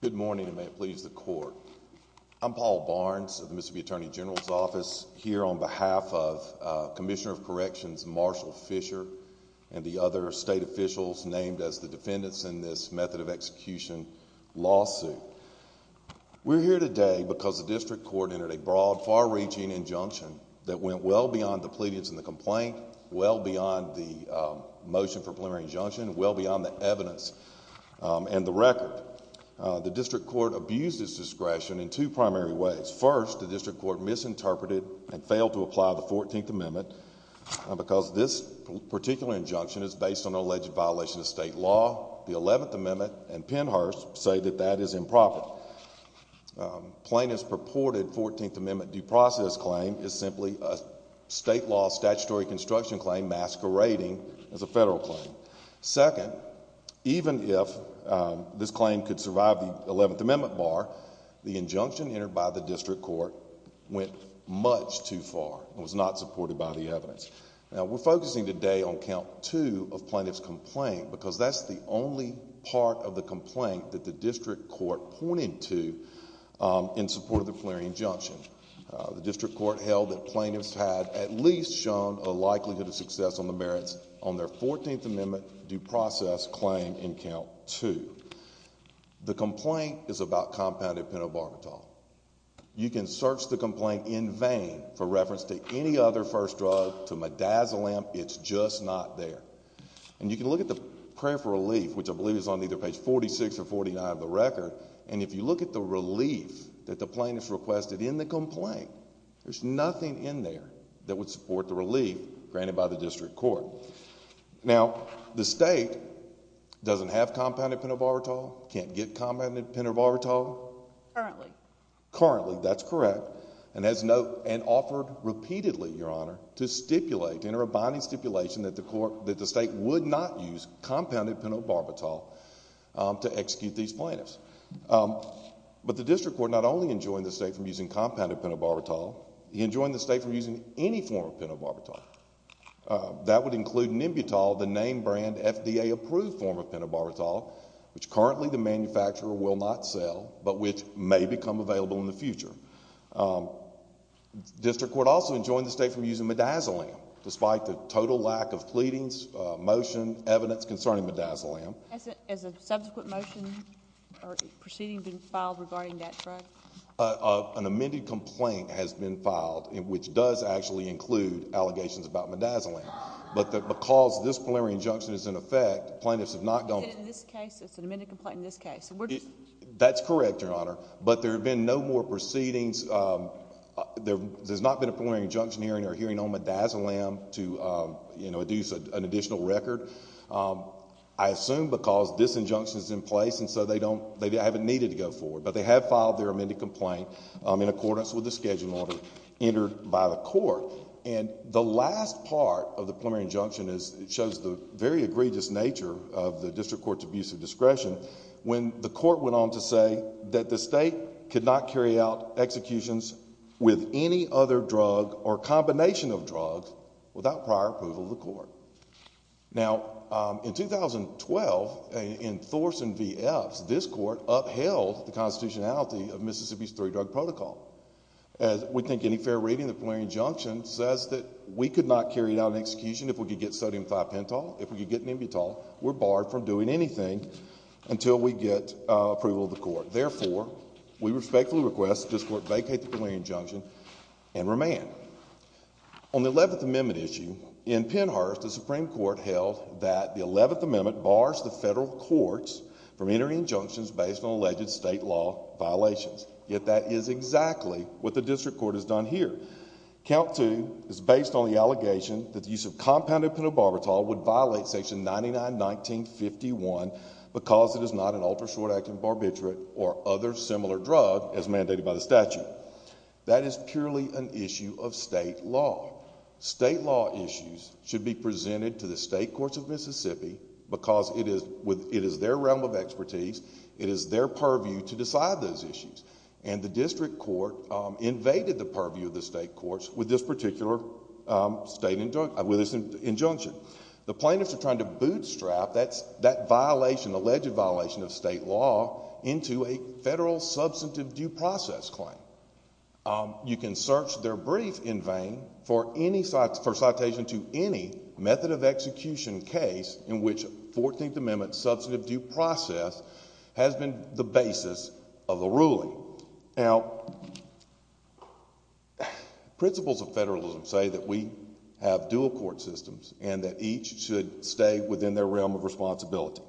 Good morning and may it please the court. I'm Paul Barnes of the Mississippi Attorney General's Office here on behalf of Commissioner of Corrections Marshall Fisher and the other state officials named as the defendants in this method of execution lawsuit. We're here today because the district court entered a broad, far-reaching injunction that went well beyond the pleadings in the complaint, well beyond the motion for preliminary injunction, well beyond the evidence and the record. The district court abused its discretion in two primary ways. First, the district court misinterpreted and failed to apply the 14th Amendment because this particular injunction is based on an alleged violation of state law. The 11th Amendment and Pennhurst say that that is improper. Plaintiff's purported 14th Amendment due process claim is simply a state law statutory construction claim masquerading as a federal claim. Second, even if this claim could survive the 11th Amendment bar, the injunction entered by the district court went much too far and was not supported by the evidence. Now we're focusing today on count two of plaintiff's complaint because that's the only part of the complaint that the district court pointed to in support of the preliminary injunction. The district court held that plaintiffs had at least shown a likelihood of success on the merits on their 14th Amendment due process claim in count two. The complaint is about compounded pentobarbital. You can search the complaint in vain for reference to any other first drug, to midazolam, it's just not there. And you can look at the prayer for relief, which I believe is on either page 46 or 49 of the record, and if you look at the relief that the plaintiffs requested in the complaint, there's nothing in there that would support the relief granted by the district court. Now, the state doesn't have compounded pentobarbital, can't get compounded pentobarbital? Currently. Currently, that's correct. And has no, and offered repeatedly, Your Honor, to stipulate, to enter a binding stipulation that the court, that the state would not use compounded pentobarbital to execute these plaintiffs. But the district court not only enjoined the state from using compounded pentobarbital, he enjoined the state from using any form of pentobarbital. That would include Nimbutol, the name brand FDA approved form of pentobarbital, which currently the manufacturer will not sell, but which may become available in the future. District court also enjoined the state from using midazolam, despite the total lack of pleadings, motion, evidence concerning midazolam. Has a subsequent motion or proceeding been filed regarding that drug? An amended complaint has been filed, which does actually include allegations about midazolam, but because this preliminary injunction is in effect, plaintiffs have not gone... Is it in this case? It's an amended complaint in this case? That's correct, Your Honor, but there have been no more proceedings. There's not been a preliminary injunction hearing or hearing on midazolam to, you know, induce an additional record. I assume because this injunction is in place and so they don't, they haven't needed to go forward, but they have filed their amended complaint in accordance with the schedule order entered by the court. And the last part of the preliminary injunction is, it shows the very egregious nature of the district court's abuse of discretion when the court went on to say that the state could not carry out executions with any other drug or combination of drugs without prior approval of the court. Now, in 2012, in Thorson v. Epps, this court upheld the constitutionality of Mississippi's three-drug protocol. We think any fair reading of the preliminary injunction says that we could not carry out an execution if we could get sodium thiopentol, if we could get nebutal. We're barred from doing anything until we get approval of the court. Therefore, we respectfully request that this court vacate the preliminary injunction and remand. On the Eleventh Amendment issue, in Pennhurst, the Supreme Court held that the Eleventh Amendment bars the federal courts from entering injunctions based on alleged state law violations. Yet that is exactly what the district court has done here. Count two is based on the allegation that the use of compounded penobarbital would violate Section 99-1951 because it is not an ultra-short-acting barbiturate or other similar drug as mandated by the statute. That is purely an issue of state law. State law issues should be presented to the state courts of Mississippi because it is their realm of expertise, it is their realm of expertise. The district court invaded the purview of the state courts with this particular injunction. The plaintiffs are trying to bootstrap that alleged violation of state law into a federal substantive due process claim. You can search their brief in vain for citation to any method of execution case in which Fourteenth Amendment substantive due process has been the basis of the ruling. Now, principles of federalism say that we have dual court systems and that each should stay within their realm of responsibility.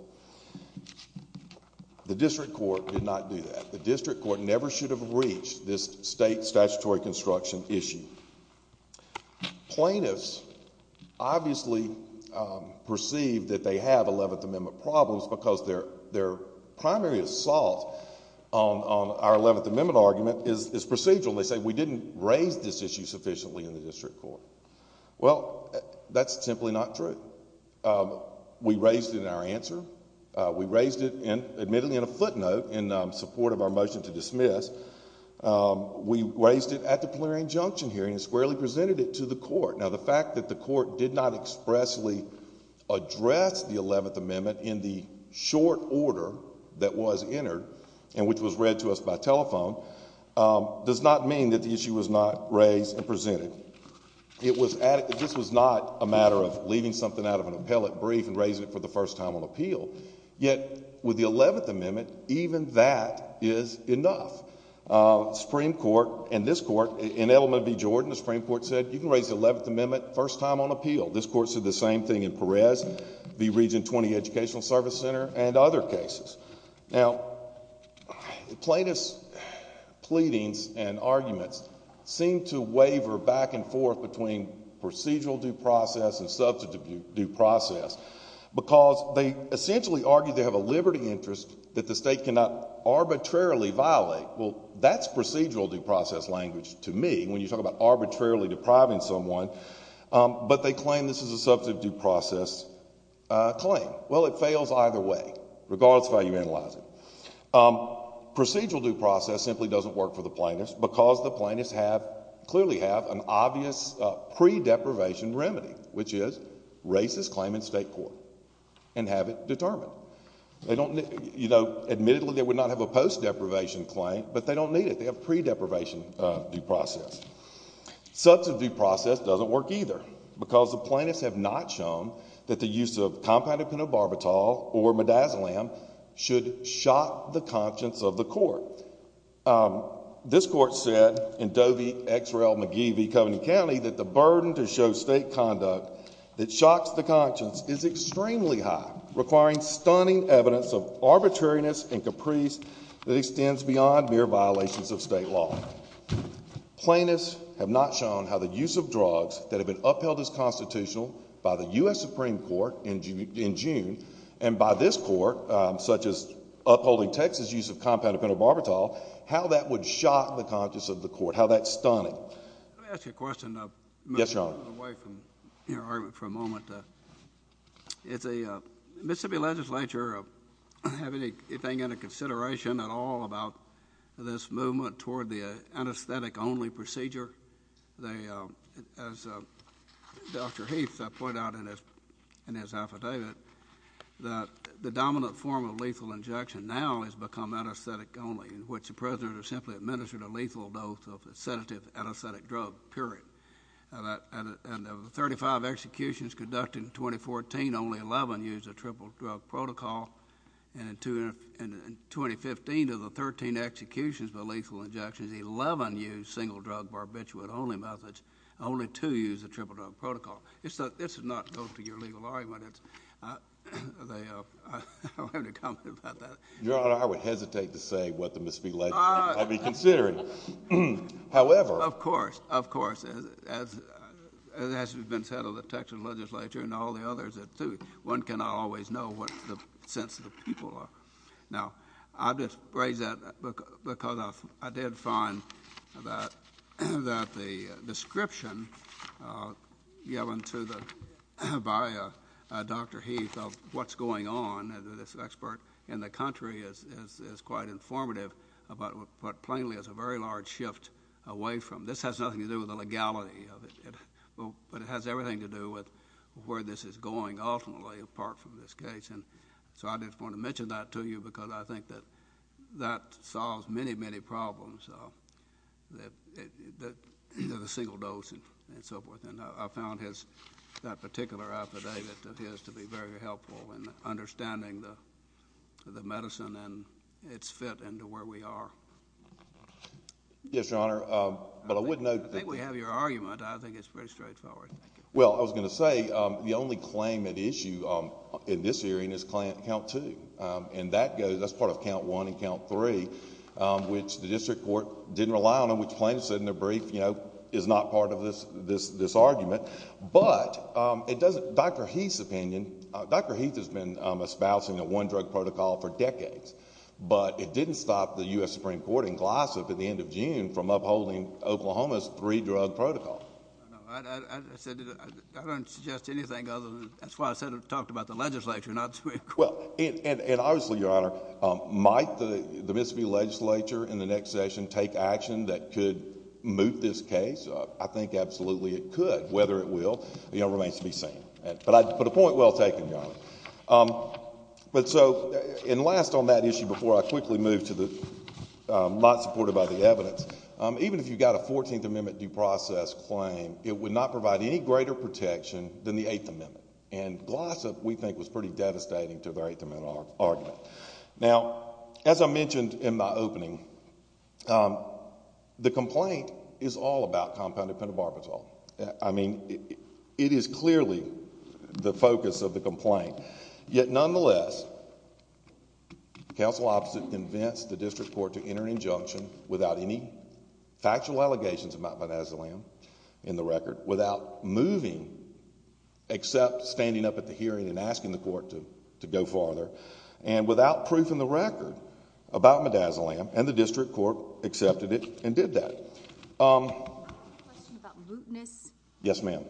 The district court did not do that. The district court never should have reached this state statutory construction issue. Plaintiffs obviously perceive that they have Eleventh Amendment problems because their primary assault on our Eleventh Amendment argument is procedural. They say we did not raise this issue sufficiently in the district court. Well, that is simply not true. We raised it in our answer. We raised it admittedly in a footnote in support of our motion to dismiss. We raised it at the plenary injunction hearing and squarely presented it to the court. Now, the fact that the court did not expressly address the Eleventh Amendment in the short order that was entered and which was read to us by telephone does not mean that the issue was not raised and presented. This was not a matter of leaving something out of an appellate brief and raising it for the first time on appeal. Yet, with the Eleventh Amendment, even that is enough. Supreme Court and this court, in Edelman v. Jordan, the Supreme Court said you can raise the Eleventh Amendment first time on appeal. This court said the same thing in Perez v. Jordan and other cases. Now, plaintiffs' pleadings and arguments seem to waver back and forth between procedural due process and substantive due process because they essentially argue they have a liberty interest that the state cannot arbitrarily violate. Well, that is procedural due process language to me when you talk about arbitrarily depriving someone. But they claim this is a substantive due process claim. Well, it fails either way, regardless of how you analyze it. Procedural due process simply does not work for the plaintiffs because the plaintiffs clearly have an obvious pre-deprivation remedy, which is racist claim in state court and have it determined. Admittedly, they would not have a post-deprivation claim, but they do not need it. They have pre-deprivation due process. Substantive due process does not work either because the plaintiffs have not shown that the use of compounded penobarbital or midazolam should shock the conscience of the court. This court said in Dovey v. McGee v. Covington County that the burden to show state conduct that shocks the conscience is extremely high, requiring stunning evidence of arbitrariness and caprice that extends beyond mere violations of state law. Plaintiffs have not shown how the use of drugs that have been upheld as constitutional by the U.S. Supreme Court in June and by this court, such as upholding Texas' use of compounded penobarbital, how that would shock the conscience of the court, how that's stunning. Let me ask you a question. Yes, Your Honor. I'm going away from your argument for a moment. Does the Mississippi legislature have anything under consideration at all about this movement toward the anesthetic-only procedure? As Dr. Heath pointed out in his affidavit, the dominant form of lethal injection now has become anesthetic-only, in which the president has simply administered a lethal dose of the sedative anesthetic drug, period. And of the 35 executions conducted in 2014, only 11 used a triple drug protocol. And in 2015, of the 13 executions by lethal injections, 11 used single-drug barbiturate-only methods. Only two used a triple drug protocol. This does not go to your legal argument. I don't have any comment about that. Your Honor, I would hesitate to say what the Mississippi legislature might be considering. However— Of course, of course. As has been said of the Texas legislature and all the others, one cannot always know what the sense of the people are. Now, I just raise that because I did find that the description given to the—by Dr. Heath of what's going on, as an expert in the country, is quite informative about what plainly is a very large shift away from—this has nothing to do with the legality of it. But it has everything to do with where this is going, ultimately, apart from this case. And so I just want to mention that to you because I think that that solves many, many problems, the single dose and so forth. And I found his—that particular affidavit of his to be very helpful in understanding the medicine and its fit into where we are. Yes, Your Honor. But I would note— I think we have your argument. I think it's pretty straightforward. Well, I was going to say, the only claim at issue in this hearing is Client Count 2. And that goes—that's part of Count 1 and Count 3, which the district court didn't rely on, which plaintiffs said in their brief, you know, is not part of this argument. But it doesn't—Dr. Heath's opinion—Dr. Heath has been espousing a one-drug protocol for decades. But it didn't stop the U.S. Supreme Court in Gloucester at the end of June from upholding Oklahoma's three-drug protocol. No, I said—I don't suggest anything other than—that's why I said—talked about the legislature, not the Supreme Court. Well, and obviously, Your Honor, might the Mississippi legislature in the next session take action that could moot this case? I think absolutely it could, whether it will remains to be seen. But a point well taken, Your Honor. But so—and last on that issue before I quickly move to the—not supported by the evidence. Even if you've got a 14th Amendment due process claim, it would not provide any greater protection than the 8th Amendment. And Gloucester, we think, was pretty devastating to their 8th Amendment argument. Now, as I mentioned in my opening, the complaint is all about compounded pentobarbital. I mean, it is clearly the focus of the complaint. Yet, nonetheless, counsel opposite convinced the district court to enter an injunction without any factual allegations of mount bonazulam in the record, without moving except standing up at the hearing and asking the court to go farther, and without proof in the record about modazolam. And the district court accepted it and did that. I have a question about mootness. Yes, ma'am.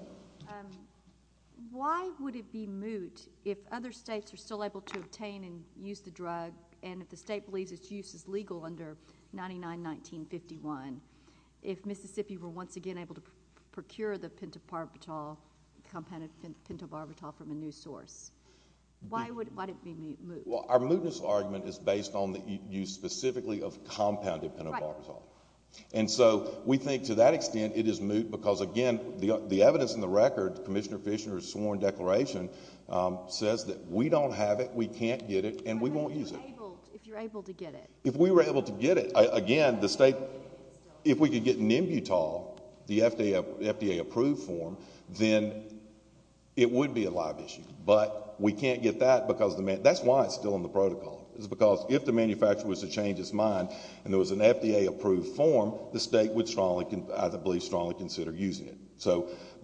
Why would it be moot if other states are still able to obtain and use the drug, and if the state believes its use is legal under 99-1951, if Mississippi were once again able to procure the compounded pentobarbital from a new source? Why would it be moot? Well, our mootness argument is based on the use specifically of compounded pentobarbital. And so, we think to that extent it is moot because, again, the evidence in the record, Commissioner Fisher's sworn declaration, says that we don't have it, we can't get it, and we won't use it. If you're able to get it. If we were able to get it. Again, if we could get Nimbutol, the FDA-approved form, then it would be a live issue. But we can't get that because, that's why it's still in the protocol. It's because if the manufacturer was to change its mind and there was an FDA-approved form, the state would, I believe, strongly consider using it.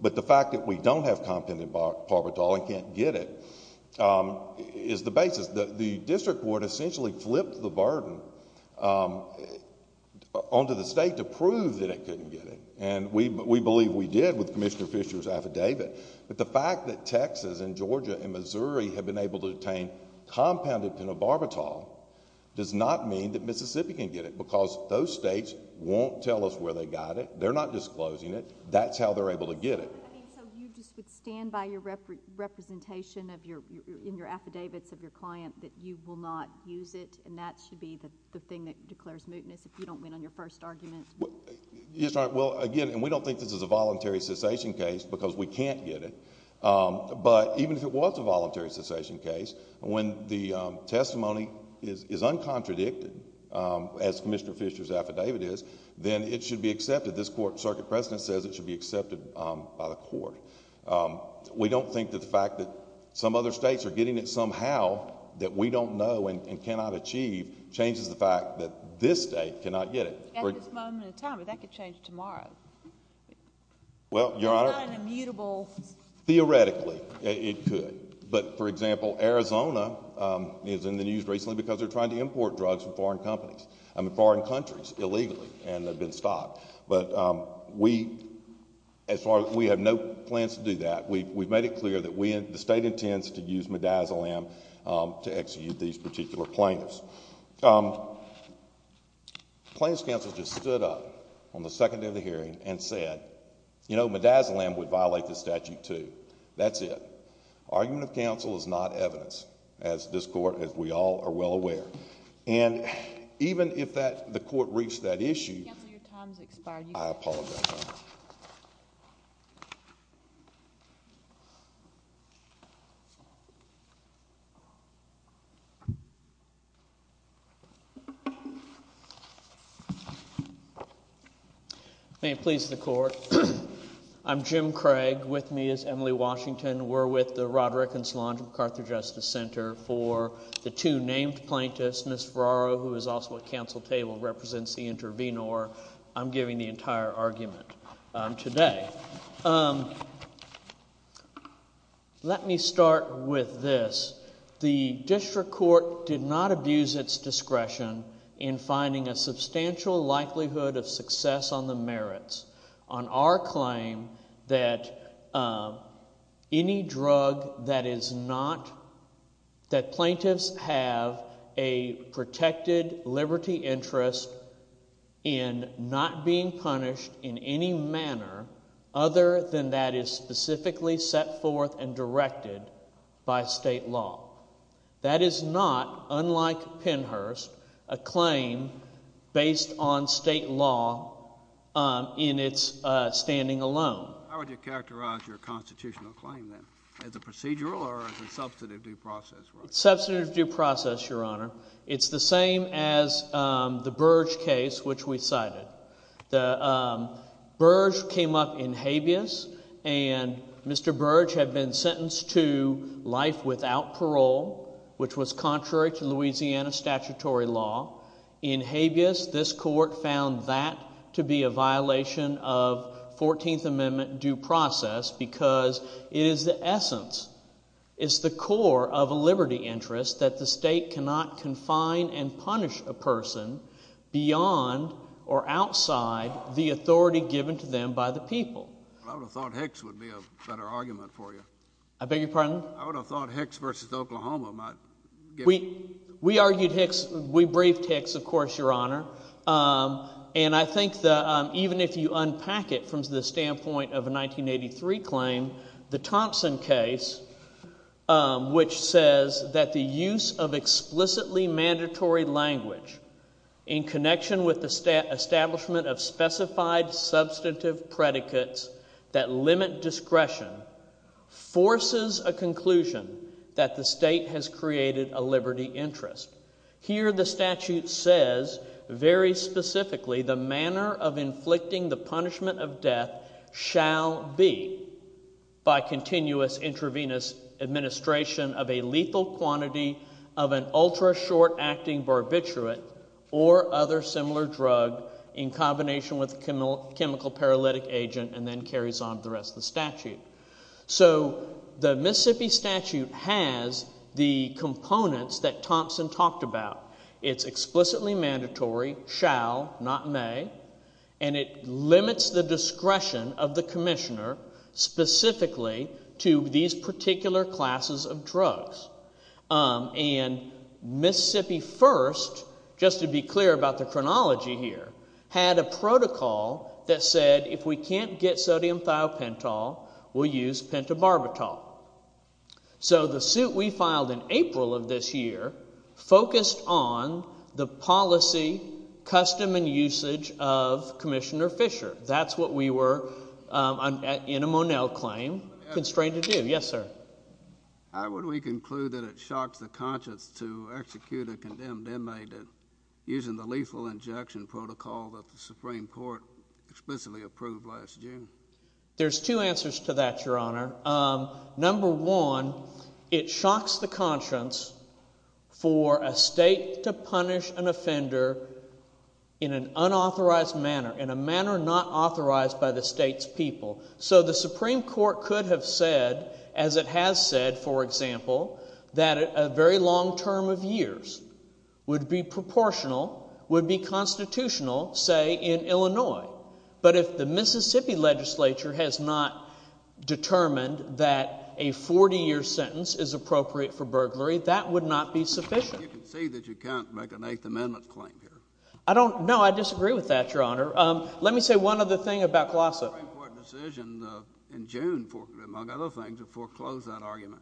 But the fact that we don't have compounded barbital and can't get it is the basis. The district court essentially flipped the burden onto the state to prove that it couldn't get it. And we believe we did with Commissioner Fisher's affidavit. But the fact that Texas and Georgia and Missouri have been able to obtain compounded penobarbital does not mean that Mississippi can get it because those states won't tell us where they got it. They're not disclosing it. That's how they're able to get it. So, you just would stand by your representation in your affidavits of your client that you will not use it and that should be the thing that declares mootness if you don't win on your first argument? Yes, Your Honor. Well, again, and we don't think this is a voluntary cessation case because we can't get it. But even if it was a voluntary cessation case, when the testimony is uncontradicted, as Commissioner Fisher's affidavit is, then it should be accepted. This court, Circuit President says it should be accepted by the court. We don't think that the fact that some other states are getting it somehow that we don't know and cannot achieve changes the fact that this state cannot get it. At this moment in time, but that could change tomorrow. Well, Your Honor. It's not an immutable. Theoretically, it could. But, for example, Arizona is in the news recently because they're trying to import drugs from foreign companies, I mean foreign countries, illegally, and they've been stopped. But we have no plans to do that. We've made it clear that the state intends to use midazolam to execute these particular plaintiffs. Plaintiffs' counsel just stood up on the second day of the hearing and said, you know, midazolam would violate this statute too. That's it. Argument of counsel is not evidence, as this court, as we all are well aware. And even if the court reached that issue, I apologize. May it please the court. I'm Jim Craig. With me is Emily Washington. We're with the Roderick and Solange MacArthur Justice Center for the two named plaintiffs. Ms. Ferraro, who is also at counsel table, represents the intervenor. I'm giving the entire argument today. Let me start with this. The district court did not abuse its discretion in finding a substantial likelihood of success on the merits on our claim that any drug that is not, that plaintiffs have a protected liberty interest in not being punished in any manner other than that is specifically set forth and directed by state law. That is not, unlike Pennhurst, a claim based on state law in its standing alone. How would you characterize your constitutional claim then? As a procedural or as a substantive due process? Substantive due process, Your Honor. It's the same as the Burge case, which we cited. The Burge came up in habeas, and Mr. Burge had been sentenced to life without parole, which was contrary to Louisiana statutory law. In habeas, this court found that to be a violation of 14th Amendment due process because it is the essence, it's the core of a liberty interest that the state cannot confine and punish a person beyond or outside the authority given to them by the people. I would have thought Hicks would be a better argument for you. I beg your pardon? I would have thought Hicks v. Oklahoma might give— We argued Hicks. We briefed Hicks, of course, Your Honor. And I think that even if you unpack it from the standpoint of a 1983 claim, the Thompson case, which says that the use of explicitly mandatory language in connection with the establishment of specified substantive predicates that limit discretion forces a conclusion that the state has created a liberty interest. Here the statute says very specifically, the manner of inflicting the punishment of death shall be, by continuous intravenous administration of a lethal quantity of an ultra-short acting barbiturate or other similar drug in combination with chemical paralytic agent, and then carries on to the rest of the statute. So the Mississippi statute has the components that Thompson talked about. It's explicitly mandatory, shall, not may, and it limits the discretion of the commissioner specifically to these particular classes of drugs. And Mississippi first, just to be clear about the chronology here, had a protocol that said if we can't get sodium thiopental, we'll use pentobarbital. So the suit we filed in April of this year focused on the policy, custom, and usage of Commissioner Fisher. That's what we were, in a Monell claim, constrained to do. Yes, sir. How would we conclude that it shocks the conscience to execute a condemned inmate using the lethal injection protocol that the Supreme Court explicitly approved last June? There's two answers to that, Your Honor. Number one, it shocks the conscience for a state to punish an offender in an unauthorized manner, in a manner not authorized by the state's people. So the Supreme Court could have said, as it has said, for example, that a very long term of years would be proportional, would be constitutional, say, in Illinois. But if the Mississippi legislature has not determined that a 40-year sentence is appropriate for burglary, that would not be sufficient. You can see that you can't make an Eighth Amendment claim here. No, I disagree with that, Your Honor. Let me say one other thing about Colosso. Did the Supreme Court decision in June, among other things, foreclose that argument?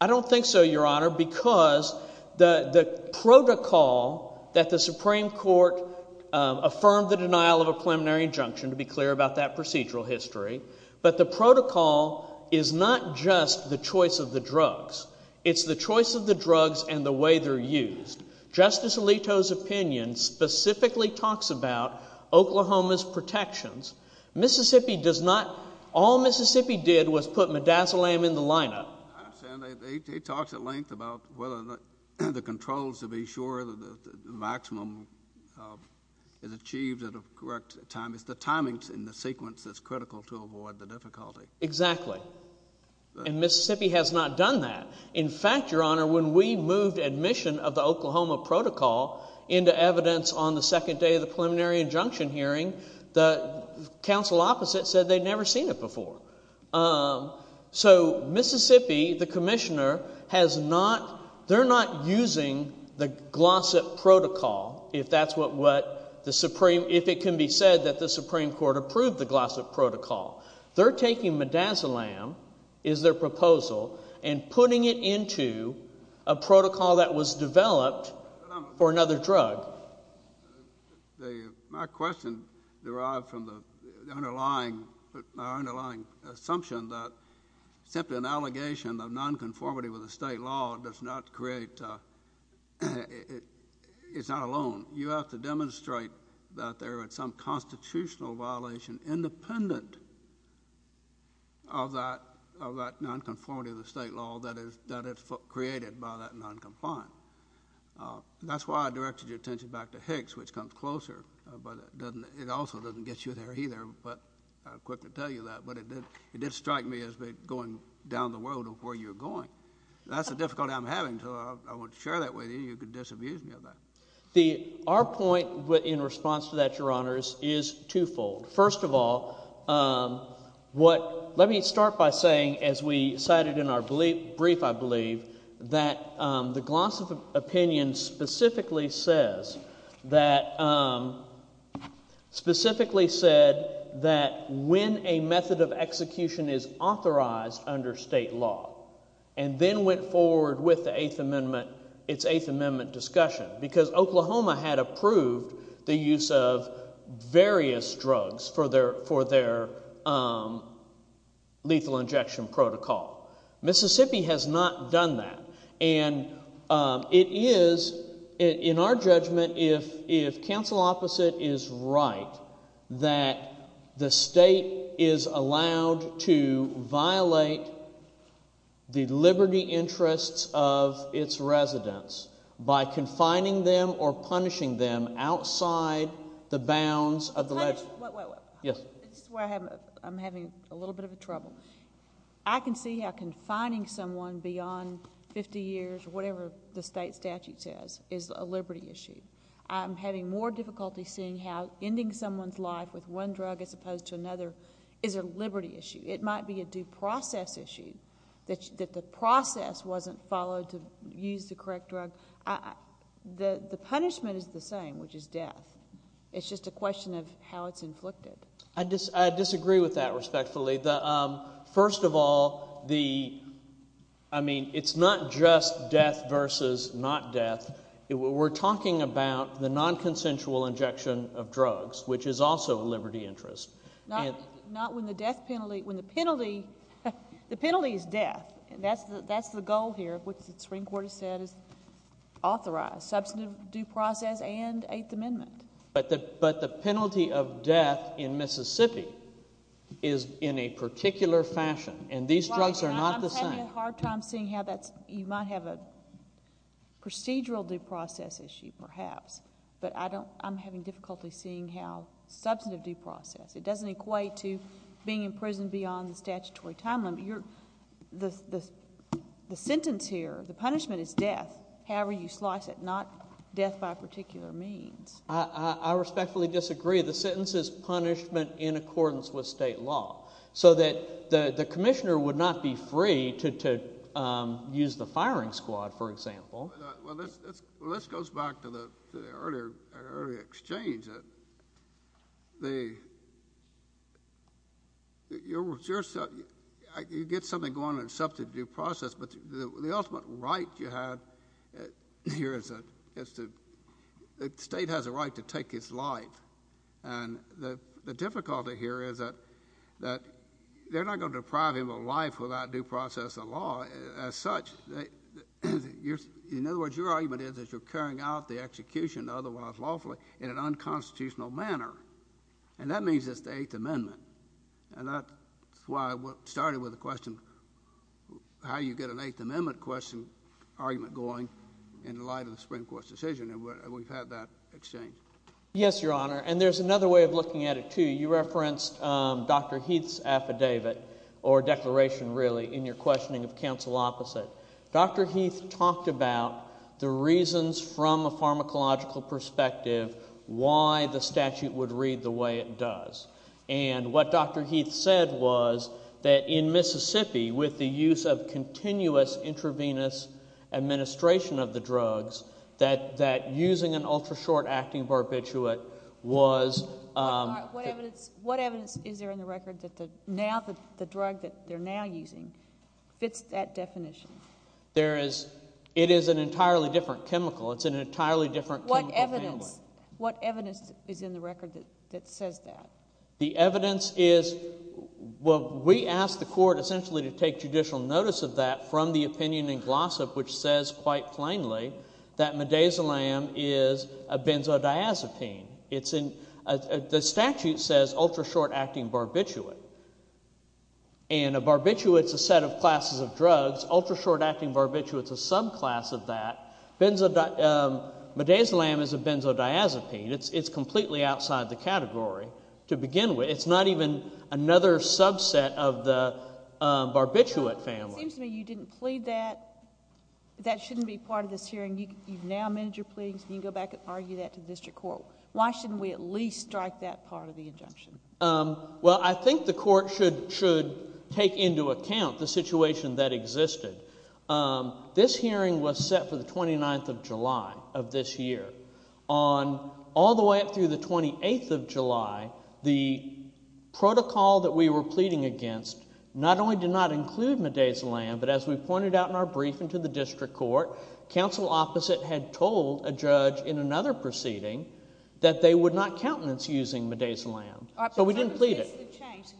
I don't think so, Your Honor, because the protocol that the Supreme Court affirmed the denial of a preliminary injunction, to be clear about that procedural history, but the protocol is not just the choice of the drugs. It's the choice of the drugs and the way they're used. Justice Alito's opinion specifically talks about Oklahoma's protections. Mississippi does not, all Mississippi did was put midazolam in the lineup. He talks at length about whether the controls to be sure that the maximum is achieved at a correct time. It's the timing in the sequence that's critical to avoid the difficulty. Exactly. And Mississippi has not done that. In fact, Your Honor, when we moved admission of the Oklahoma protocol into evidence on the second day of the preliminary injunction hearing, the council opposite said they'd never seen it before. So Mississippi, the commissioner, has not, they're not using the Glossip Protocol, if that's what the Supreme, if it can be said that the Supreme Court approved the Glossip Protocol. They're taking midazolam, is their proposal, and putting it into a protocol that was developed for another drug. My question derived from the underlying assumption that simply an allegation of nonconformity with the state law does not create, it's not alone. You have to demonstrate that there is some constitutional violation independent of that nonconformity of the state law that is created by that noncompliance. That's why I directed your attention back to Hicks, which comes closer, but it also doesn't get you there either, but I'll quickly tell you that. But it did strike me as going down the road of where you're going. That's the difficulty I'm having, so I want to share that with you. You could disabuse me of that. Our point in response to that, Your Honors, is twofold. First of all, let me start by saying, as we cited in our brief, I believe, that the Glossop opinion specifically said that when a method of execution is authorized under state law and then went forward with the Eighth Amendment, its Eighth Amendment discussion, because Oklahoma had approved the use of various drugs for their lethal injection protocol. Mississippi has not done that. And it is, in our judgment, if counsel opposite is right, that the state is allowed to violate the liberty interests of its residents by confining them or punishing them outside the bounds of the legislation. Wait, wait, wait. Yes. This is where I'm having a little bit of trouble. I can see how confining someone beyond fifty years or whatever the state statute says is a liberty issue. I'm having more difficulty seeing how ending someone's life with one drug as opposed to another is a liberty issue. It might be a due process issue that the process wasn't followed to use the correct drug. The punishment is the same, which is death. It's just a question of how it's inflicted. I disagree with that respectfully. First of all, I mean, it's not just death versus not death. We're talking about the nonconsensual injection of drugs, which is also a liberty interest. Not when the death penalty—when the penalty—the penalty is death. That's the goal here of what the Supreme Court has said is authorized, substantive due process and Eighth Amendment. But the penalty of death in Mississippi is in a particular fashion, and these drugs are not the same. I'm having a hard time seeing how that's—you might have a procedural due process issue perhaps, but I don't—I'm having difficulty seeing how substantive due process. It doesn't equate to being in prison beyond the statutory time limit. The sentence here, the punishment is death, however you slice it, not death by a particular means. I respectfully disagree. The sentence is punishment in accordance with state law, so that the commissioner would not be free to use the firing squad, for example. Well, this goes back to the earlier exchange that you get something going on in substantive due process, but the ultimate right you have here is that the state has a right to take his life, and the difficulty here is that they're not going to deprive him of a life without due process and law. As such, in other words, your argument is that you're carrying out the execution otherwise lawfully in an unconstitutional manner, and that means it's the Eighth Amendment. And that's why I started with the question, how do you get an Eighth Amendment question argument going in light of the Supreme Court's decision? And we've had that exchange. Yes, Your Honor, and there's another way of looking at it too. You referenced Dr. Heath's affidavit, or declaration really, in your questioning of counsel opposite. Dr. Heath talked about the reasons from a pharmacological perspective why the statute would read the way it does. And what Dr. Heath said was that in Mississippi, with the use of continuous intravenous administration of the drugs, that using an ultra-short-acting barbiturate was— What evidence is there in the record that the drug that they're now using fits that definition? It is an entirely different chemical. It's an entirely different chemical handling. What evidence is in the record that says that? The evidence is—well, we asked the court essentially to take judicial notice of that from the opinion in Glossop, which says quite plainly that midazolam is a benzodiazepine. The statute says ultra-short-acting barbiturate, and a barbiturate is a set of classes of drugs. Ultra-short-acting barbiturate is a subclass of that. Midazolam is a benzodiazepine. It's completely outside the category to begin with. It's not even another subset of the barbiturate family. It seems to me you didn't plead that. That shouldn't be part of this hearing. You've now amended your pleadings, and you can go back and argue that to the district court. Why shouldn't we at least strike that part of the injunction? Well, I think the court should take into account the situation that existed. This hearing was set for the 29th of July of this year. All the way up through the 28th of July, the protocol that we were pleading against not only did not include midazolam, but as we pointed out in our briefing to the district court, counsel opposite had told a judge in another proceeding that they would not countenance using midazolam. So we didn't plead it.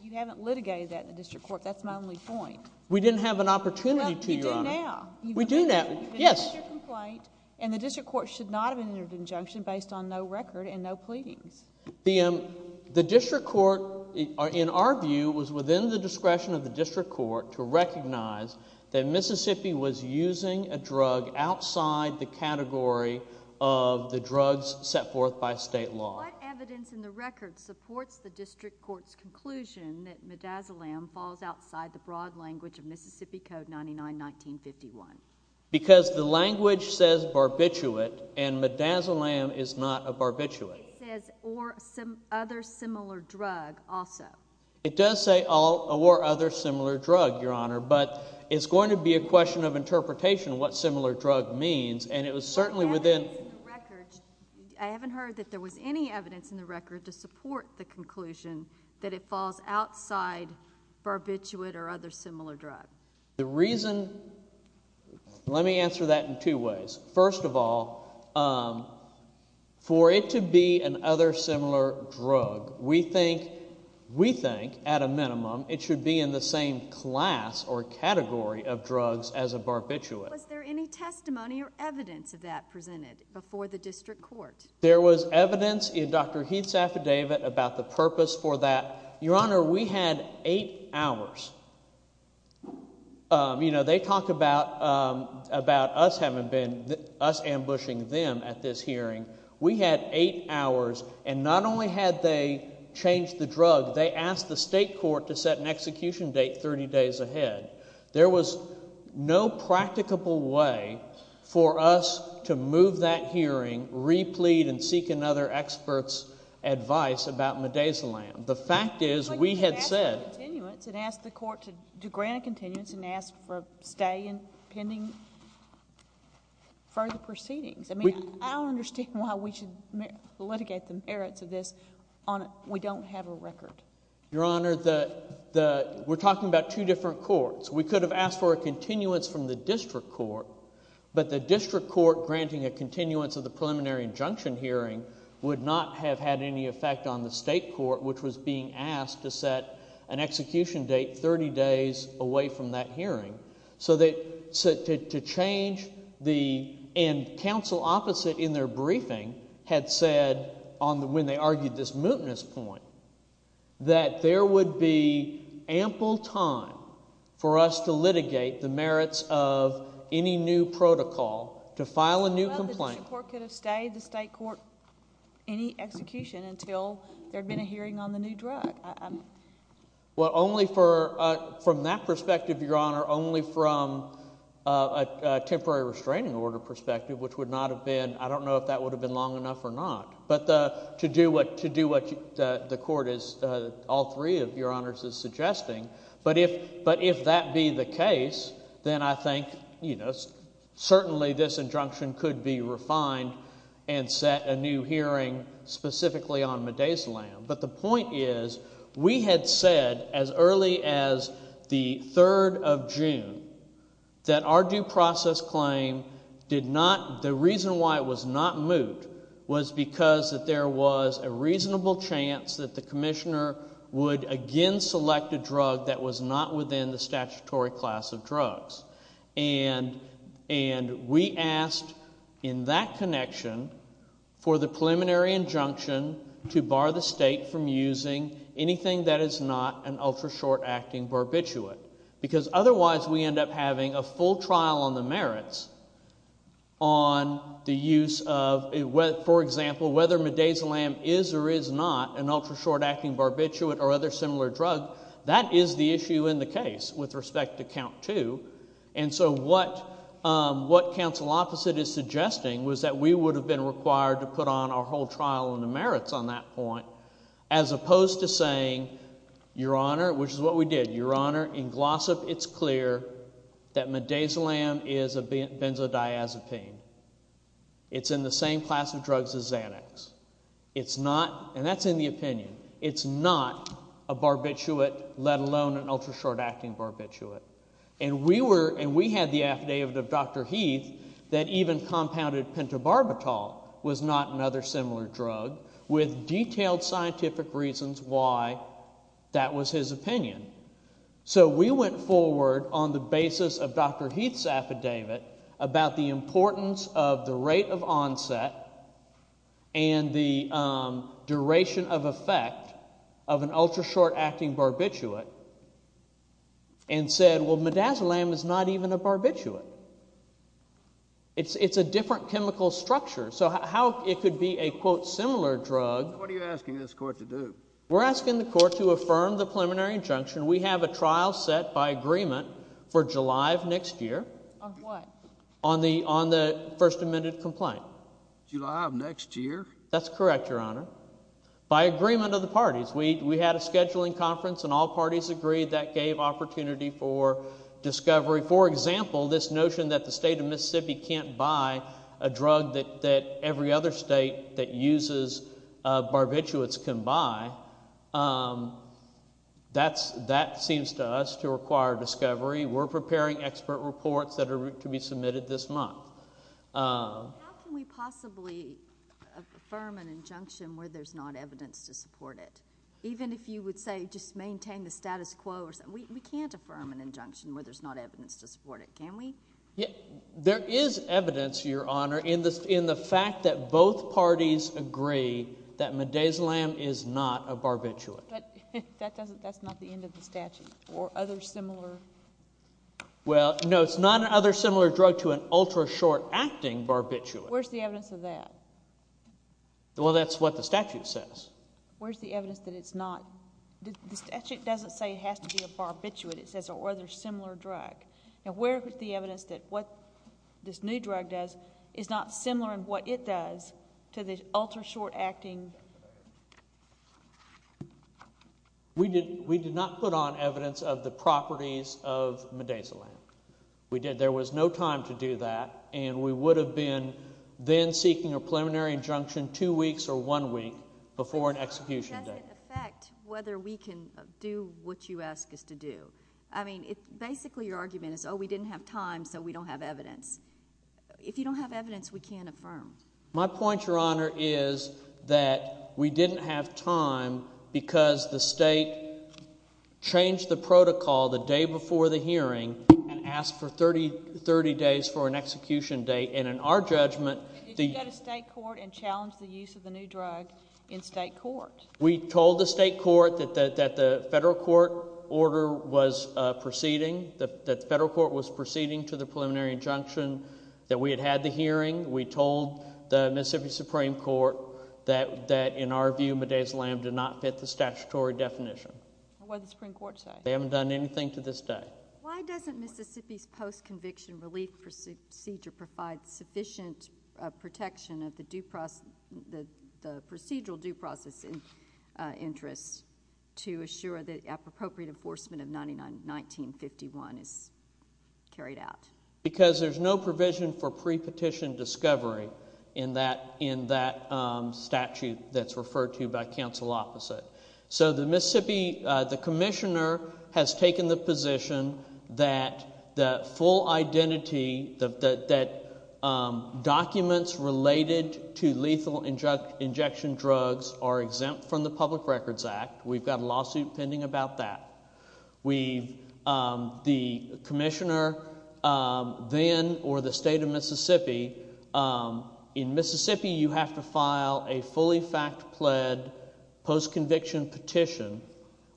You haven't litigated that in the district court. That's my only point. We didn't have an opportunity to, Your Honor. Well, you do now. We do now. Yes. You've finished your complaint, and the district court should not have entered an injunction based on no record and no pleadings. The district court, in our view, was within the discretion of the district court to recognize that Mississippi was using a drug outside the category of the drugs set forth by state law. What evidence in the record supports the district court's conclusion that midazolam falls outside the broad language of Mississippi Code 99-1951? Because the language says barbiturate, and midazolam is not a barbiturate. It says or other similar drug also. It does say or other similar drug, Your Honor, but it's going to be a question of interpretation what similar drug means, and it was certainly within I haven't heard that there was any evidence in the record to support the conclusion that it falls outside barbiturate or other similar drug. The reason, let me answer that in two ways. First of all, for it to be an other similar drug, we think at a minimum it should be in the same class or category of drugs as a barbiturate. Was there any testimony or evidence of that presented before the district court? There was evidence in Dr. Heath's affidavit about the purpose for that. Your Honor, we had eight hours. They talk about us ambushing them at this hearing. We had eight hours, and not only had they changed the drug, they asked the state court to set an execution date 30 days ahead. There was no practicable way for us to move that hearing, replete, and seek another expert's advice about midazolam. The fact is we had said— But you could ask for continuance and ask the court to grant a continuance and ask for a stay in pending further proceedings. I mean I don't understand why we should litigate the merits of this on we don't have a record. Your Honor, we're talking about two different courts. We could have asked for a continuance from the district court, but the district court granting a continuance of the preliminary injunction hearing would not have had any effect on the state court, which was being asked to set an execution date 30 days away from that hearing. So to change the—and counsel opposite in their briefing had said when they argued this mootness point that there would be ample time for us to litigate the merits of any new protocol to file a new complaint. Well, the district court could have stayed, the state court any execution until there had been a hearing on the new drug. Well, only for—from that perspective, Your Honor, only from a temporary restraining order perspective, which would not have been—I don't know if that would have been long enough or not. But to do what the court is—all three of Your Honors is suggesting. But if that be the case, then I think certainly this injunction could be refined and set a new hearing specifically on midazolam. But the point is we had said as early as the 3rd of June that our due process claim did not—the reason why it was not moot was because there was a reasonable chance that the commissioner would again select a drug that was not within the statutory class of drugs. And we asked in that connection for the preliminary injunction to bar the state from using anything that is not an ultra short-acting barbiturate. Because otherwise we end up having a full trial on the merits on the use of—for example, whether midazolam is or is not an ultra short-acting barbiturate or other similar drug. That is the issue in the case with respect to count two. And so what counsel opposite is suggesting was that we would have been required to put on our whole trial on the merits on that point as opposed to saying, Your Honor—which is what we did. Your Honor, in Glossop it's clear that midazolam is a benzodiazepine. It's in the same class of drugs as Xanax. It's not—and that's in the opinion. It's not a barbiturate, let alone an ultra short-acting barbiturate. And we were—and we had the affidavit of Dr. Heath that even compounded pentobarbital was not another similar drug with detailed scientific reasons why that was his opinion. So we went forward on the basis of Dr. Heath's affidavit about the importance of the rate of onset and the duration of effect of an ultra short-acting barbiturate and said, Well, midazolam is not even a barbiturate. It's a different chemical structure. So how it could be a, quote, similar drug— What are you asking this court to do? We're asking the court to affirm the preliminary injunction. We have a trial set by agreement for July of next year. On what? On the first amended complaint. July of next year? That's correct, Your Honor. By agreement of the parties. We had a scheduling conference, and all parties agreed. That gave opportunity for discovery. For example, this notion that the state of Mississippi can't buy a drug that every other state that uses barbiturates can buy, that seems to us to require discovery. We're preparing expert reports that are to be submitted this month. How can we possibly affirm an injunction where there's not evidence to support it? Even if you would say just maintain the status quo, we can't affirm an injunction where there's not evidence to support it, can we? There is evidence, Your Honor, in the fact that both parties agree that midazolam is not a barbiturate. But that's not the end of the statute. Or other similar— Well, no, it's not an other similar drug to an ultra short-acting barbiturate. Where's the evidence of that? Well, that's what the statute says. Where's the evidence that it's not? The statute doesn't say it has to be a barbiturate. It says or other similar drug. And where is the evidence that what this new drug does is not similar in what it does to the ultra short-acting barbiturate? We did not put on evidence of the properties of midazolam. We did. There was no time to do that, and we would have been then seeking a preliminary injunction two weeks or one week before an execution date. Does it affect whether we can do what you ask us to do? I mean, basically your argument is, oh, we didn't have time, so we don't have evidence. If you don't have evidence, we can't affirm. My point, Your Honor, is that we didn't have time because the state changed the protocol the day before the hearing and asked for 30 days for an execution date. And in our judgment— Did you go to state court and challenge the use of the new drug in state court? We told the state court that the federal court order was proceeding, that the federal court was proceeding to the preliminary injunction, that we had had the hearing. We told the Mississippi Supreme Court that, in our view, midazolam did not fit the statutory definition. What did the Supreme Court say? They haven't done anything to this day. Why doesn't Mississippi's post-conviction relief procedure provide sufficient protection of the procedural due process interests to assure that appropriate enforcement of 1951 is carried out? Because there's no provision for pre-petition discovery in that statute that's referred to by counsel opposite. So the Mississippi—the commissioner has taken the position that the full identity, that documents related to lethal injection drugs are exempt from the Public Records Act. We've got a lawsuit pending about that. We've—the commissioner then, or the state of Mississippi—in Mississippi, you have to file a fully fact-pled post-conviction petition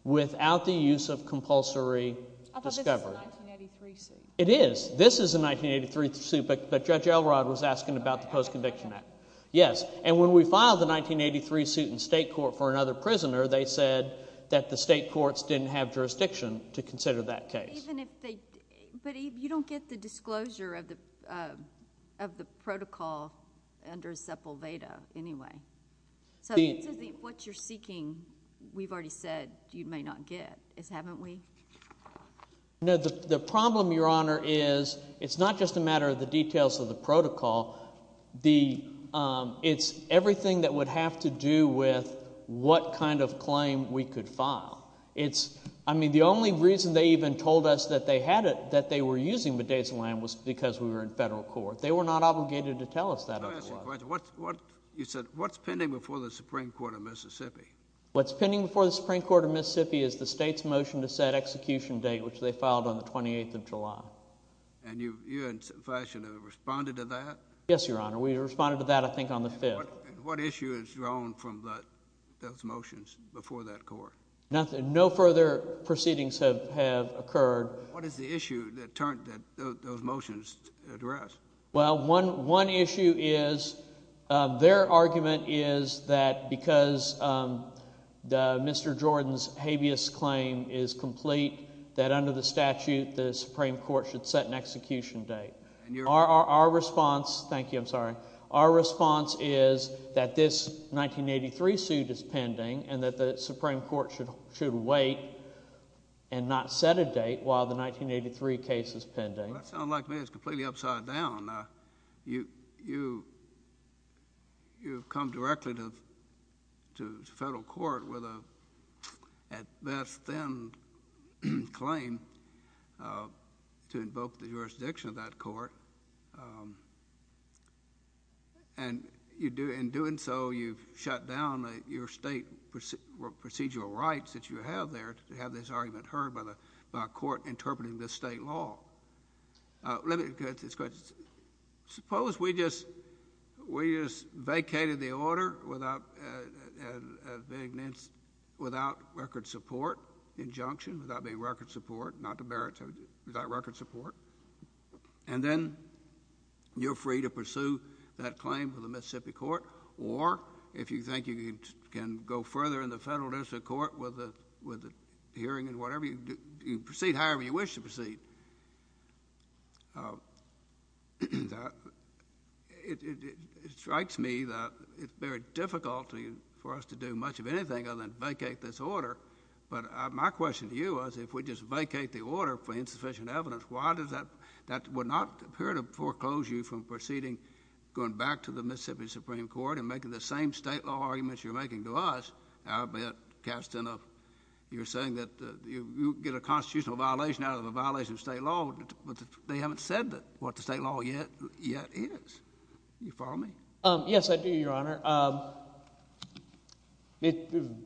without the use of compulsory discovery. But this is a 1983 suit. It is. This is a 1983 suit, but Judge Elrod was asking about the post-conviction act. Yes, and when we filed the 1983 suit in state court for another prisoner, they said that the state courts didn't have jurisdiction to consider that case. Even if they—but you don't get the disclosure of the protocol under Sepulveda anyway. So this is the—what you're seeking, we've already said, you may not get, haven't we? No, the problem, Your Honor, is it's not just a matter of the details of the protocol. The—it's everything that would have to do with what kind of claim we could file. It's—I mean the only reason they even told us that they had it, that they were using midazolam was because we were in federal court. They were not obligated to tell us that otherwise. Let me ask you a question. What's pending before the Supreme Court of Mississippi is the state's motion to set execution date, which they filed on the 28th of July. And you, in some fashion, have responded to that? Yes, Your Honor. We responded to that, I think, on the 5th. What issue has grown from those motions before that court? Nothing. No further proceedings have occurred. What is the issue that those motions address? Well, one issue is their argument is that because Mr. Jordan's habeas claim is complete, that under the statute the Supreme Court should set an execution date. Our response—thank you, I'm sorry. Our response is that this 1983 suit is pending and that the Supreme Court should wait and not set a date while the 1983 case is pending. Well, that sounds like to me it's completely upside down. You've come directly to federal court with a, at best, thin claim to invoke the jurisdiction of that court. And in doing so, you've shut down your state procedural rights that you have there to have this argument heard by a court interpreting this state law. Let me get to this question. Suppose we just vacated the order without record support, injunction, without being record support, not to bear it without record support. And then you're free to pursue that claim for the Mississippi court. Or if you think you can go further in the federal district court with the hearing and whatever, you proceed however you wish to proceed. It strikes me that it's very difficult for us to do much of anything other than vacate this order. But my question to you is if we just vacate the order for insufficient evidence, why does that—that would not appear to foreclose you from proceeding, going back to the Mississippi Supreme Court and making the same state law arguments you're making to us, albeit cast in a— you're saying that you get a constitutional violation out of a violation of state law, but they haven't said what the state law yet is. Do you follow me? Yes, I do, Your Honor.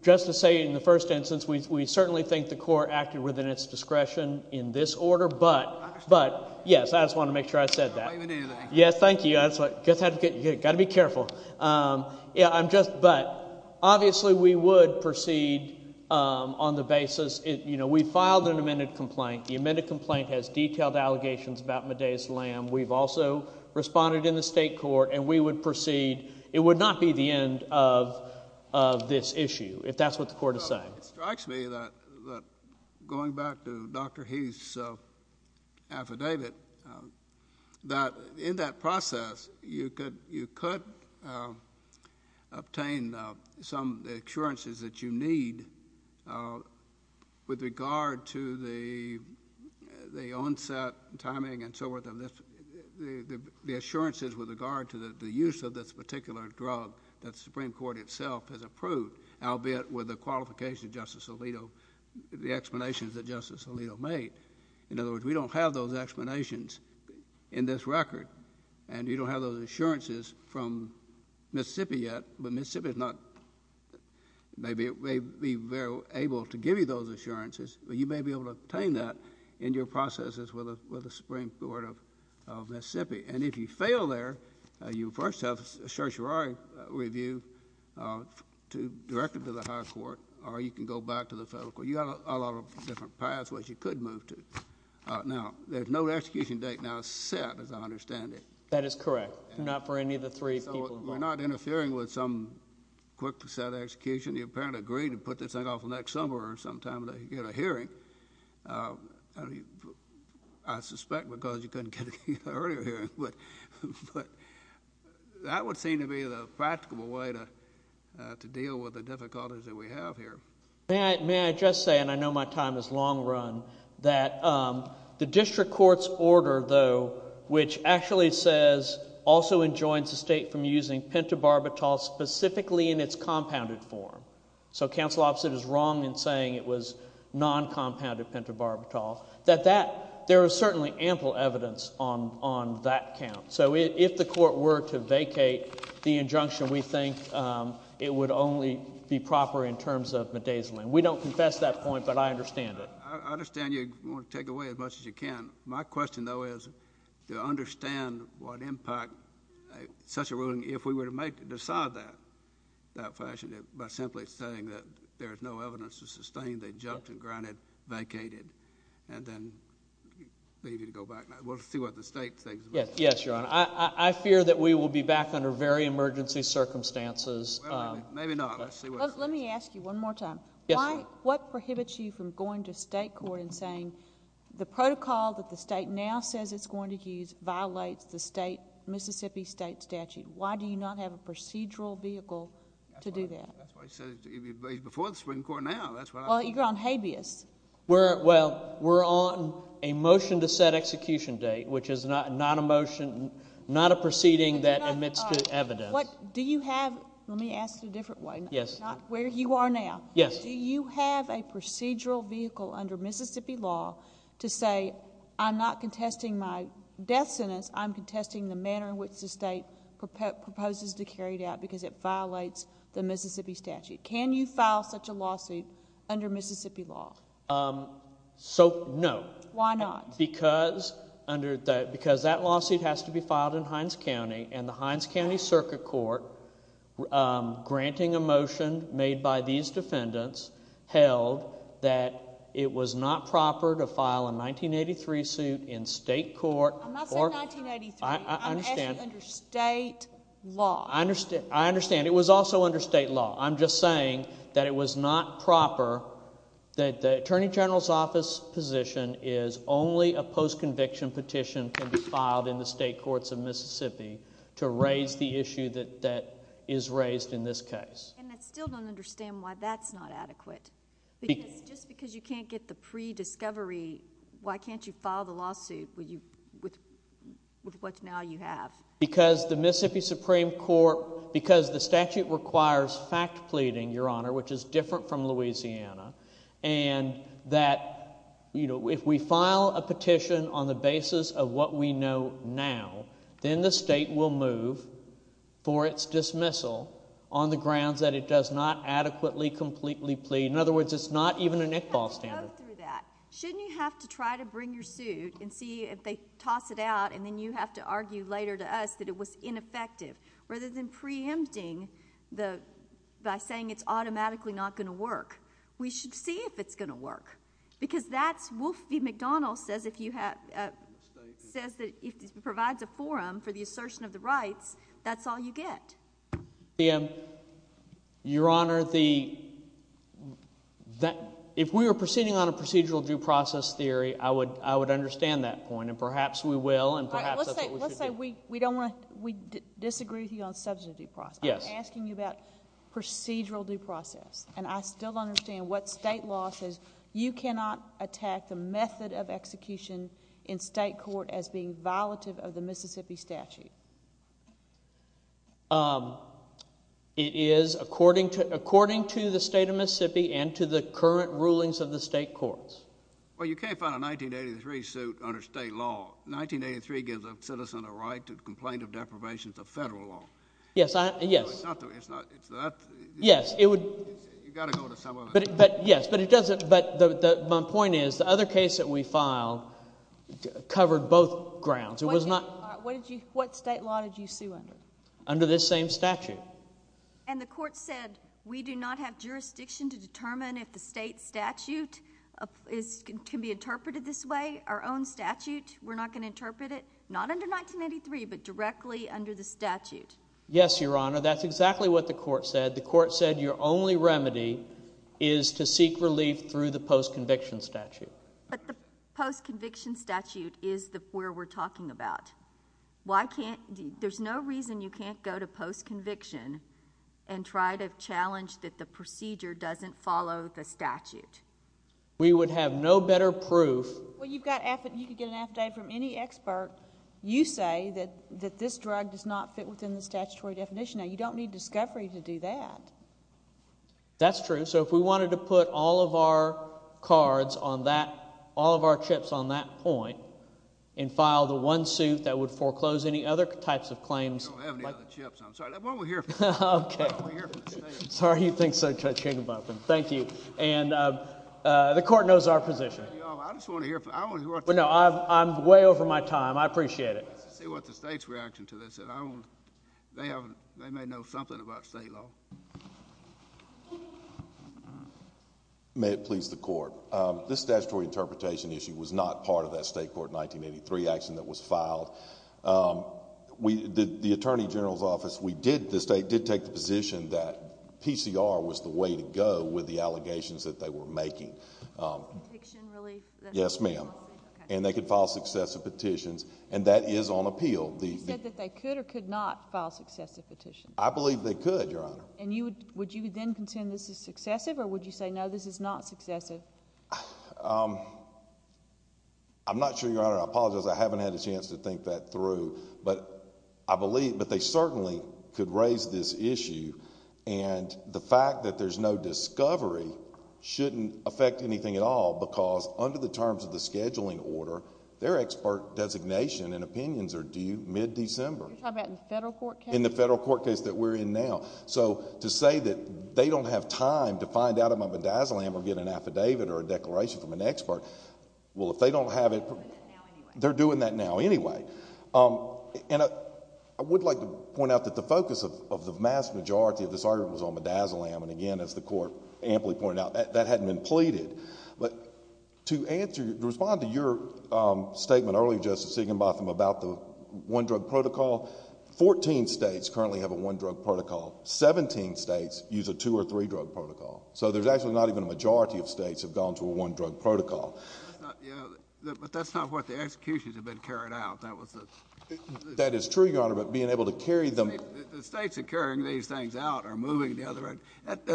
Just to say in the first instance, we certainly think the court acted within its discretion in this order. But, yes, I just want to make sure I said that. Yes, thank you. That's what—you've got to be careful. Yeah, I'm just—but obviously we would proceed on the basis—we filed an amended complaint. The amended complaint has detailed allegations about Medea's lamb. We've also responded in the state court, and we would proceed. It would not be the end of this issue, if that's what the court is saying. It strikes me that going back to Dr. Heath's affidavit, that in that process, you could obtain some assurances that you need with regard to the onset, that Supreme Court itself has approved, albeit with the qualifications of Justice Alito, the explanations that Justice Alito made. In other words, we don't have those explanations in this record, and you don't have those assurances from Mississippi yet. But Mississippi is not—may be able to give you those assurances, but you may be able to obtain that in your processes with the Supreme Court of Mississippi. And if you fail there, you first have a certiorari review directed to the high court, or you can go back to the federal court. You've got a lot of different paths which you could move to. Now, there's no execution date now set, as I understand it. That is correct. Not for any of the three people involved. So we're not interfering with some quick set execution. You apparently agreed to put this thing off until next summer or sometime that you get a hearing. I suspect because you couldn't get an earlier hearing, but that would seem to be the practical way to deal with the difficulties that we have here. May I just say, and I know my time is long run, that the district court's order, though, which actually says also enjoins the state from using pentobarbital specifically in its compounded form. So counsel opposite is wrong in saying it was non-compounded pentobarbital, that there is certainly ample evidence on that count. So if the court were to vacate the injunction, we think it would only be proper in terms of midazolam. We don't confess that point, but I understand it. I understand you want to take away as much as you can. My question, though, is to understand what impact such a ruling, if we were to decide that, that fashion, by simply saying that there is no evidence to sustain they jumped and granted, vacated, and then needed to go back. We'll see what the state thinks. Yes, Your Honor. I fear that we will be back under very emergency circumstances. Maybe not. Yes, ma'am. The court prohibits you from going to state court and saying the protocol that the state now says it's going to use violates the Mississippi state statute. Why do you not have a procedural vehicle to do that? That's why I said it before the Supreme Court now. Well, you're on habeas. Well, we're on a motion to set execution date, which is not a proceeding that admits to evidence. Do you have – let me ask you a different way. Yes. Not where you are now. Yes. Do you have a procedural vehicle under Mississippi law to say I'm not contesting my death sentence, I'm contesting the manner in which the state proposes to carry it out because it violates the Mississippi statute? Can you file such a lawsuit under Mississippi law? So, no. Why not? Because that lawsuit has to be filed in Hines County, and the Hines County Circuit Court, granting a motion made by these defendants, held that it was not proper to file a 1983 suit in state court. I'm not saying 1983. I understand. I'm asking under state law. I understand. It was also under state law. I'm just saying that it was not proper that the Attorney General's office position is only a post-conviction petition can be filed in the state courts of Mississippi to raise the issue that is raised in this case. And I still don't understand why that's not adequate. Just because you can't get the pre-discovery, why can't you file the lawsuit with what now you have? Because the Mississippi Supreme Court, because the statute requires fact pleading, Your Honor, which is different from Louisiana, and that if we file a petition on the basis of what we know now, then the state will move for its dismissal on the grounds that it does not adequately, completely plead. In other words, it's not even an Iqbal standard. Shouldn't you have to try to bring your suit and see if they toss it out and then you have to argue later to us that it was ineffective rather than preempting by saying it's automatically not going to work? We should see if it's going to work because that's – Wolf v. McDonald says if you have – says that if it provides a forum for the assertion of the rights, that's all you get. Your Honor, the – if we were proceeding on a procedural due process theory, I would understand that point, and perhaps we will and perhaps that's what we should do. Let's say we don't want to – we disagree with you on substantive due process. I'm asking you about procedural due process, and I still don't understand what state law says you cannot attack the method of execution in state court as being violative of the Mississippi statute. It is according to the state of Mississippi and to the current rulings of the state courts. Well, you can't find a 1983 suit under state law. 1983 gives a citizen a right to complain of deprivations of federal law. Yes, I – yes. It's not – it's not – it's not – Yes, it would – You've got to go to some other – But, yes, but it doesn't – but my point is the other case that we filed covered both grounds. It was not – What did you – what state law did you sue under? Under this same statute. And the court said we do not have jurisdiction to determine if the state statute can be interpreted this way. Our own statute, we're not going to interpret it, not under 1983, but directly under the statute. Yes, Your Honor. That's exactly what the court said. The court said your only remedy is to seek relief through the post-conviction statute. But the post-conviction statute is where we're talking about. Why can't – there's no reason you can't go to post-conviction and try to challenge that the procedure doesn't follow the statute. We would have no better proof – Well, you've got – you could get an affidavit from any expert. You say that this drug does not fit within the statutory definition. Now, you don't need discovery to do that. That's true. So if we wanted to put all of our cards on that – all of our chips on that point and file the one suit that would foreclose any other types of claims – We don't have any other chips. I'm sorry. That's what we're here for. Okay. That's what we're here for. Sorry you think so, Judge Higginbotham. Thank you. And the court knows our position. I just want to hear – I want to hear what the – No, I'm way over my time. I appreciate it. Let's see what the state's reaction to this. They may know something about state law. May it please the court. This statutory interpretation issue was not part of that state court 1983 action that was filed. The Attorney General's Office, we did – the state did take the position that PCR was the way to go with the allegations that they were making. Petition relief? Yes, ma'am. And they could file successive petitions. And that is on appeal. You said that they could or could not file successive petitions. I believe they could, Your Honor. And you would – would you then contend this is successive or would you say no, this is not successive? I'm not sure, Your Honor. I apologize. I haven't had a chance to think that through. But I believe – but they certainly could raise this issue. And the fact that there's no discovery shouldn't affect anything at all because under the terms of the scheduling order, their expert designation and opinions are due mid-December. You're talking about the federal court case? In the federal court case that we're in now. So to say that they don't have time to find out about my bedazzling or get an affidavit or a declaration from an expert, well, if they don't have it... They're doing that now anyway. They're doing that now anyway. And I would like to point out that the focus of the vast majority of this argument was on bedazzling. And, again, as the court amply pointed out, that hadn't been pleaded. But to answer – to respond to your statement earlier, Justice Siegenbotham, about the one-drug protocol, 14 states currently have a one-drug protocol. Seventeen states use a two- or three-drug protocol. So there's actually not even a majority of states have gone to a one-drug protocol. But that's not what the executions have been carried out. That was the... That is true, Your Honor, but being able to carry them... The states are carrying these things out or moving the other end. That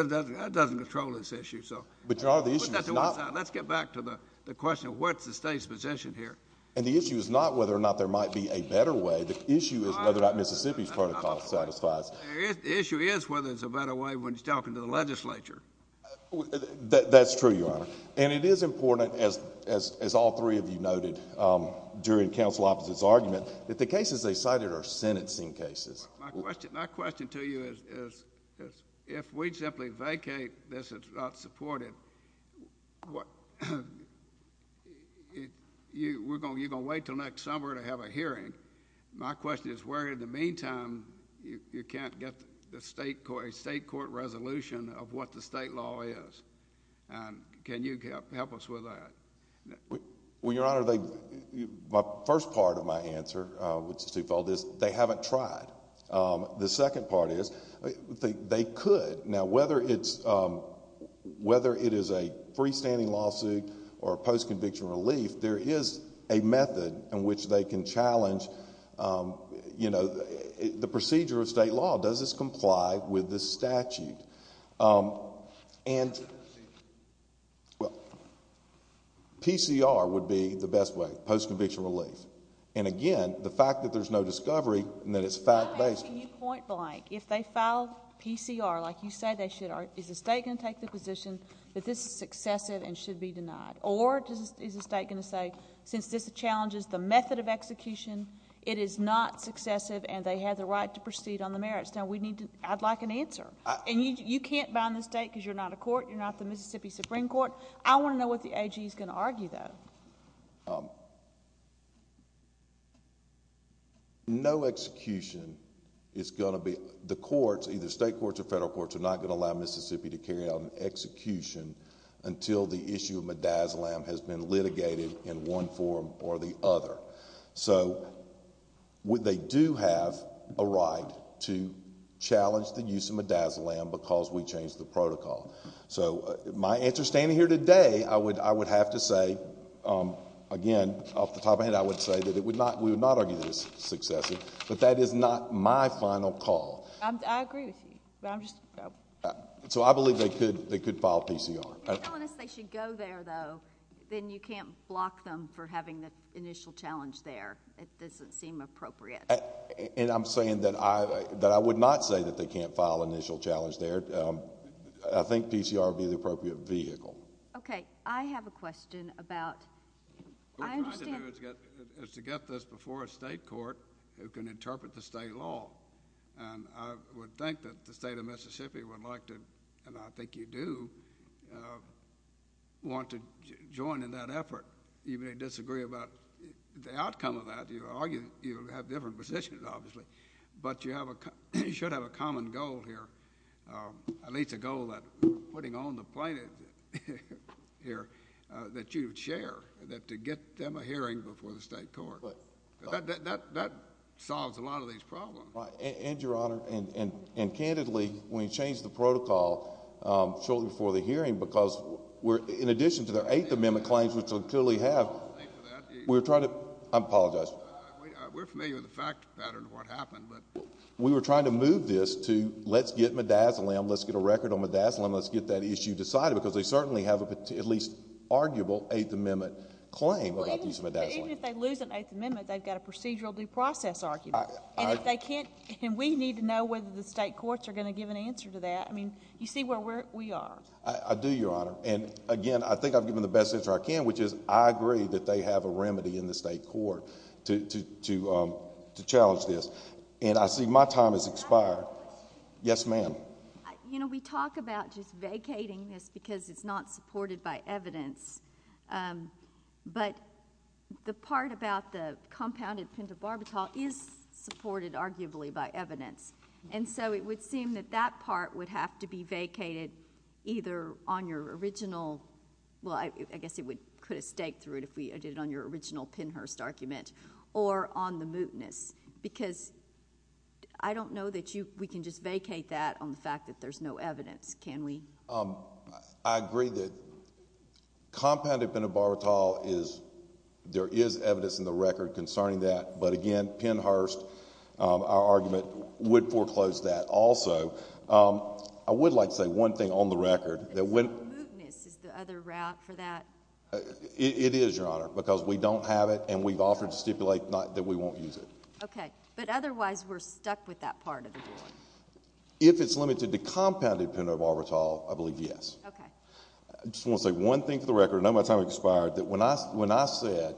doesn't control this issue. But, Your Honor, the issue is not... Let's get back to the question of what's the state's position here. And the issue is not whether or not there might be a better way. The issue is whether or not Mississippi's protocol satisfies... The issue is whether there's a better way when you're talking to the legislature. That's true, Your Honor. And it is important, as all three of you noted during Counsel Opposite's argument, that the cases they cited are sentencing cases. My question to you is if we simply vacate this, it's not supported, you're going to wait until next summer to have a hearing. My question is where, in the meantime, you can't get a state court resolution of what the state law is. Can you help us with that? Well, Your Honor, my first part of my answer, which is twofold, is they haven't tried. The second part is they could. Now, whether it is a freestanding lawsuit or a post-conviction relief, there is a method in which they can challenge the procedure of state law. Does this comply with this statute? Well, PCR would be the best way, post-conviction relief. And again, the fact that there's no discovery and that it's fact-based... I'm asking you point blank. If they file PCR like you said they should, is the state going to take the position that this is excessive and should be denied? Or is the state going to say since this challenges the method of execution, it is not successive and they have the right to proceed on the merits? Now, I'd like an answer. And you can't bind the state because you're not a court. You're not the Mississippi Supreme Court. I want to know what the AG is going to argue, though. No execution is going to be... The courts, either state courts or federal courts, are not going to allow Mississippi to carry out an execution until the issue of midazolam has been litigated in one form or the other. So, they do have a right to challenge the use of midazolam because we changed the protocol. So, my answer standing here today, I would have to say, again, off the top of my head, I would say that we would not argue that it is successive. But that is not my final call. I agree with you. So, I believe they could file PCR. If they're telling us they should go there, though, then you can't block them for having the initial challenge there. It doesn't seem appropriate. And I'm saying that I would not say that they can't file initial challenge there. I think PCR would be the appropriate vehicle. Okay. I have a question about... What we're trying to do is to get this before a state court who can interpret the state law. And I would think that the state of Mississippi would like to, and I think you do, want to join in that effort. You may disagree about the outcome of that. You have different positions, obviously. But you should have a common goal here, at least a goal that putting on the plaintiff here that you would share, that to get them a hearing before the state court. That solves a lot of these problems. And, Your Honor, and candidly, when you change the protocol shortly before the hearing, because in addition to their Eighth Amendment claims, which they clearly have, we're trying to... I apologize. We're familiar with the fact pattern of what happened. We were trying to move this to let's get Midazolam, let's get a record on Midazolam, let's get that issue decided, because they certainly have at least an arguable Eighth Amendment claim about the use of Midazolam. Even if they lose an Eighth Amendment, they've got a procedural due process argument. And if they can't... And we need to know whether the state courts are going to give an answer to that. I mean, you see where we are. I do, Your Honor. And, again, I think I've given the best answer I can, which is I agree that they have a remedy in the state court to challenge this. And I see my time has expired. I have a question. Yes, ma'am. You know, we talk about just vacating this because it's not supported by evidence. But the part about the compounded pentobarbital is supported, arguably, by evidence. And so it would seem that that part would have to be vacated either on your original... Well, I guess it could have staked through it if we did it on your original Pennhurst argument, or on the mootness. Because I don't know that we can just vacate that on the fact that there's no evidence. Can we? I agree that compounded pentobarbital is... There is evidence in the record concerning that. But, again, Pennhurst, our argument, would foreclose that also. I would like to say one thing on the record. Is the mootness the other route for that? It is, Your Honor, because we don't have it, and we've offered to stipulate that we won't use it. Okay. But otherwise, we're stuck with that part of the ruling. If it's limited to compounded pentobarbital, I believe yes. Okay. I just want to say one thing for the record. I know my time expired. When I said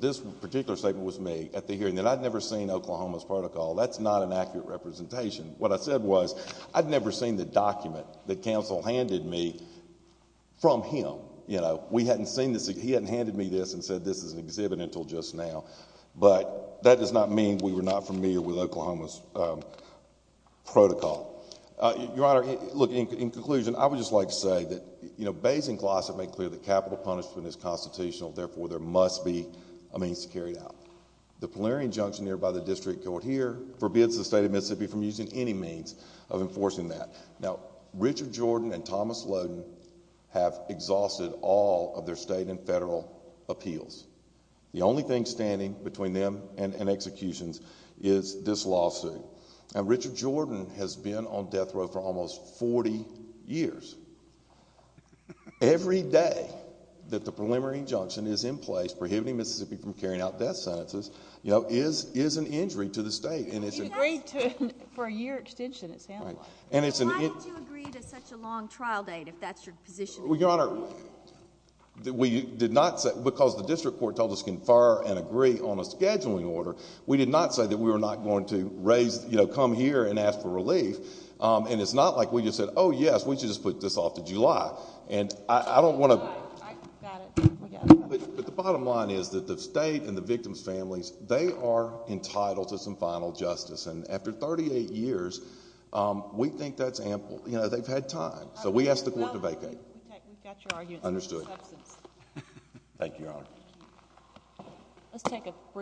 this particular statement was made at the hearing, that I'd never seen Oklahoma's protocol, that's not an accurate representation. What I said was I'd never seen the document that counsel handed me from him. We hadn't seen this. He hadn't handed me this and said this is an exhibit until just now. But that does not mean we were not familiar with Oklahoma's protocol. Your Honor, look, in conclusion, I would just like to say that, you know, Bays and Gloucester make clear that capital punishment is constitutional. Therefore, there must be a means to carry it out. The Polarian Junction nearby the district court here forbids the state of Mississippi from using any means of enforcing that. Now, Richard Jordan and Thomas Loden have exhausted all of their state and federal appeals. The only thing standing between them and executions is this lawsuit. Now, Richard Jordan has been on death row for almost 40 years. Every day that the Preliminary Injunction is in place prohibiting Mississippi from carrying out death sentences, you know, is an injury to the state. You agreed to it for a year extension, it sounds like. Right. Why did you agree to such a long trial date if that's your position? Well, Your Honor, we did not say, because the district court told us to confer and agree on a scheduling order, we did not say that we were not going to raise, you know, come here and ask for relief. And it's not like we just said, oh, yes, we should just put this off to July. And I don't want to— I got it. But the bottom line is that the state and the victim's families, they are entitled to some final justice. And after 38 years, we think that's ample. You know, they've had time. So we asked the court to vacate. We've got your argument. Understood. Thank you, Your Honor.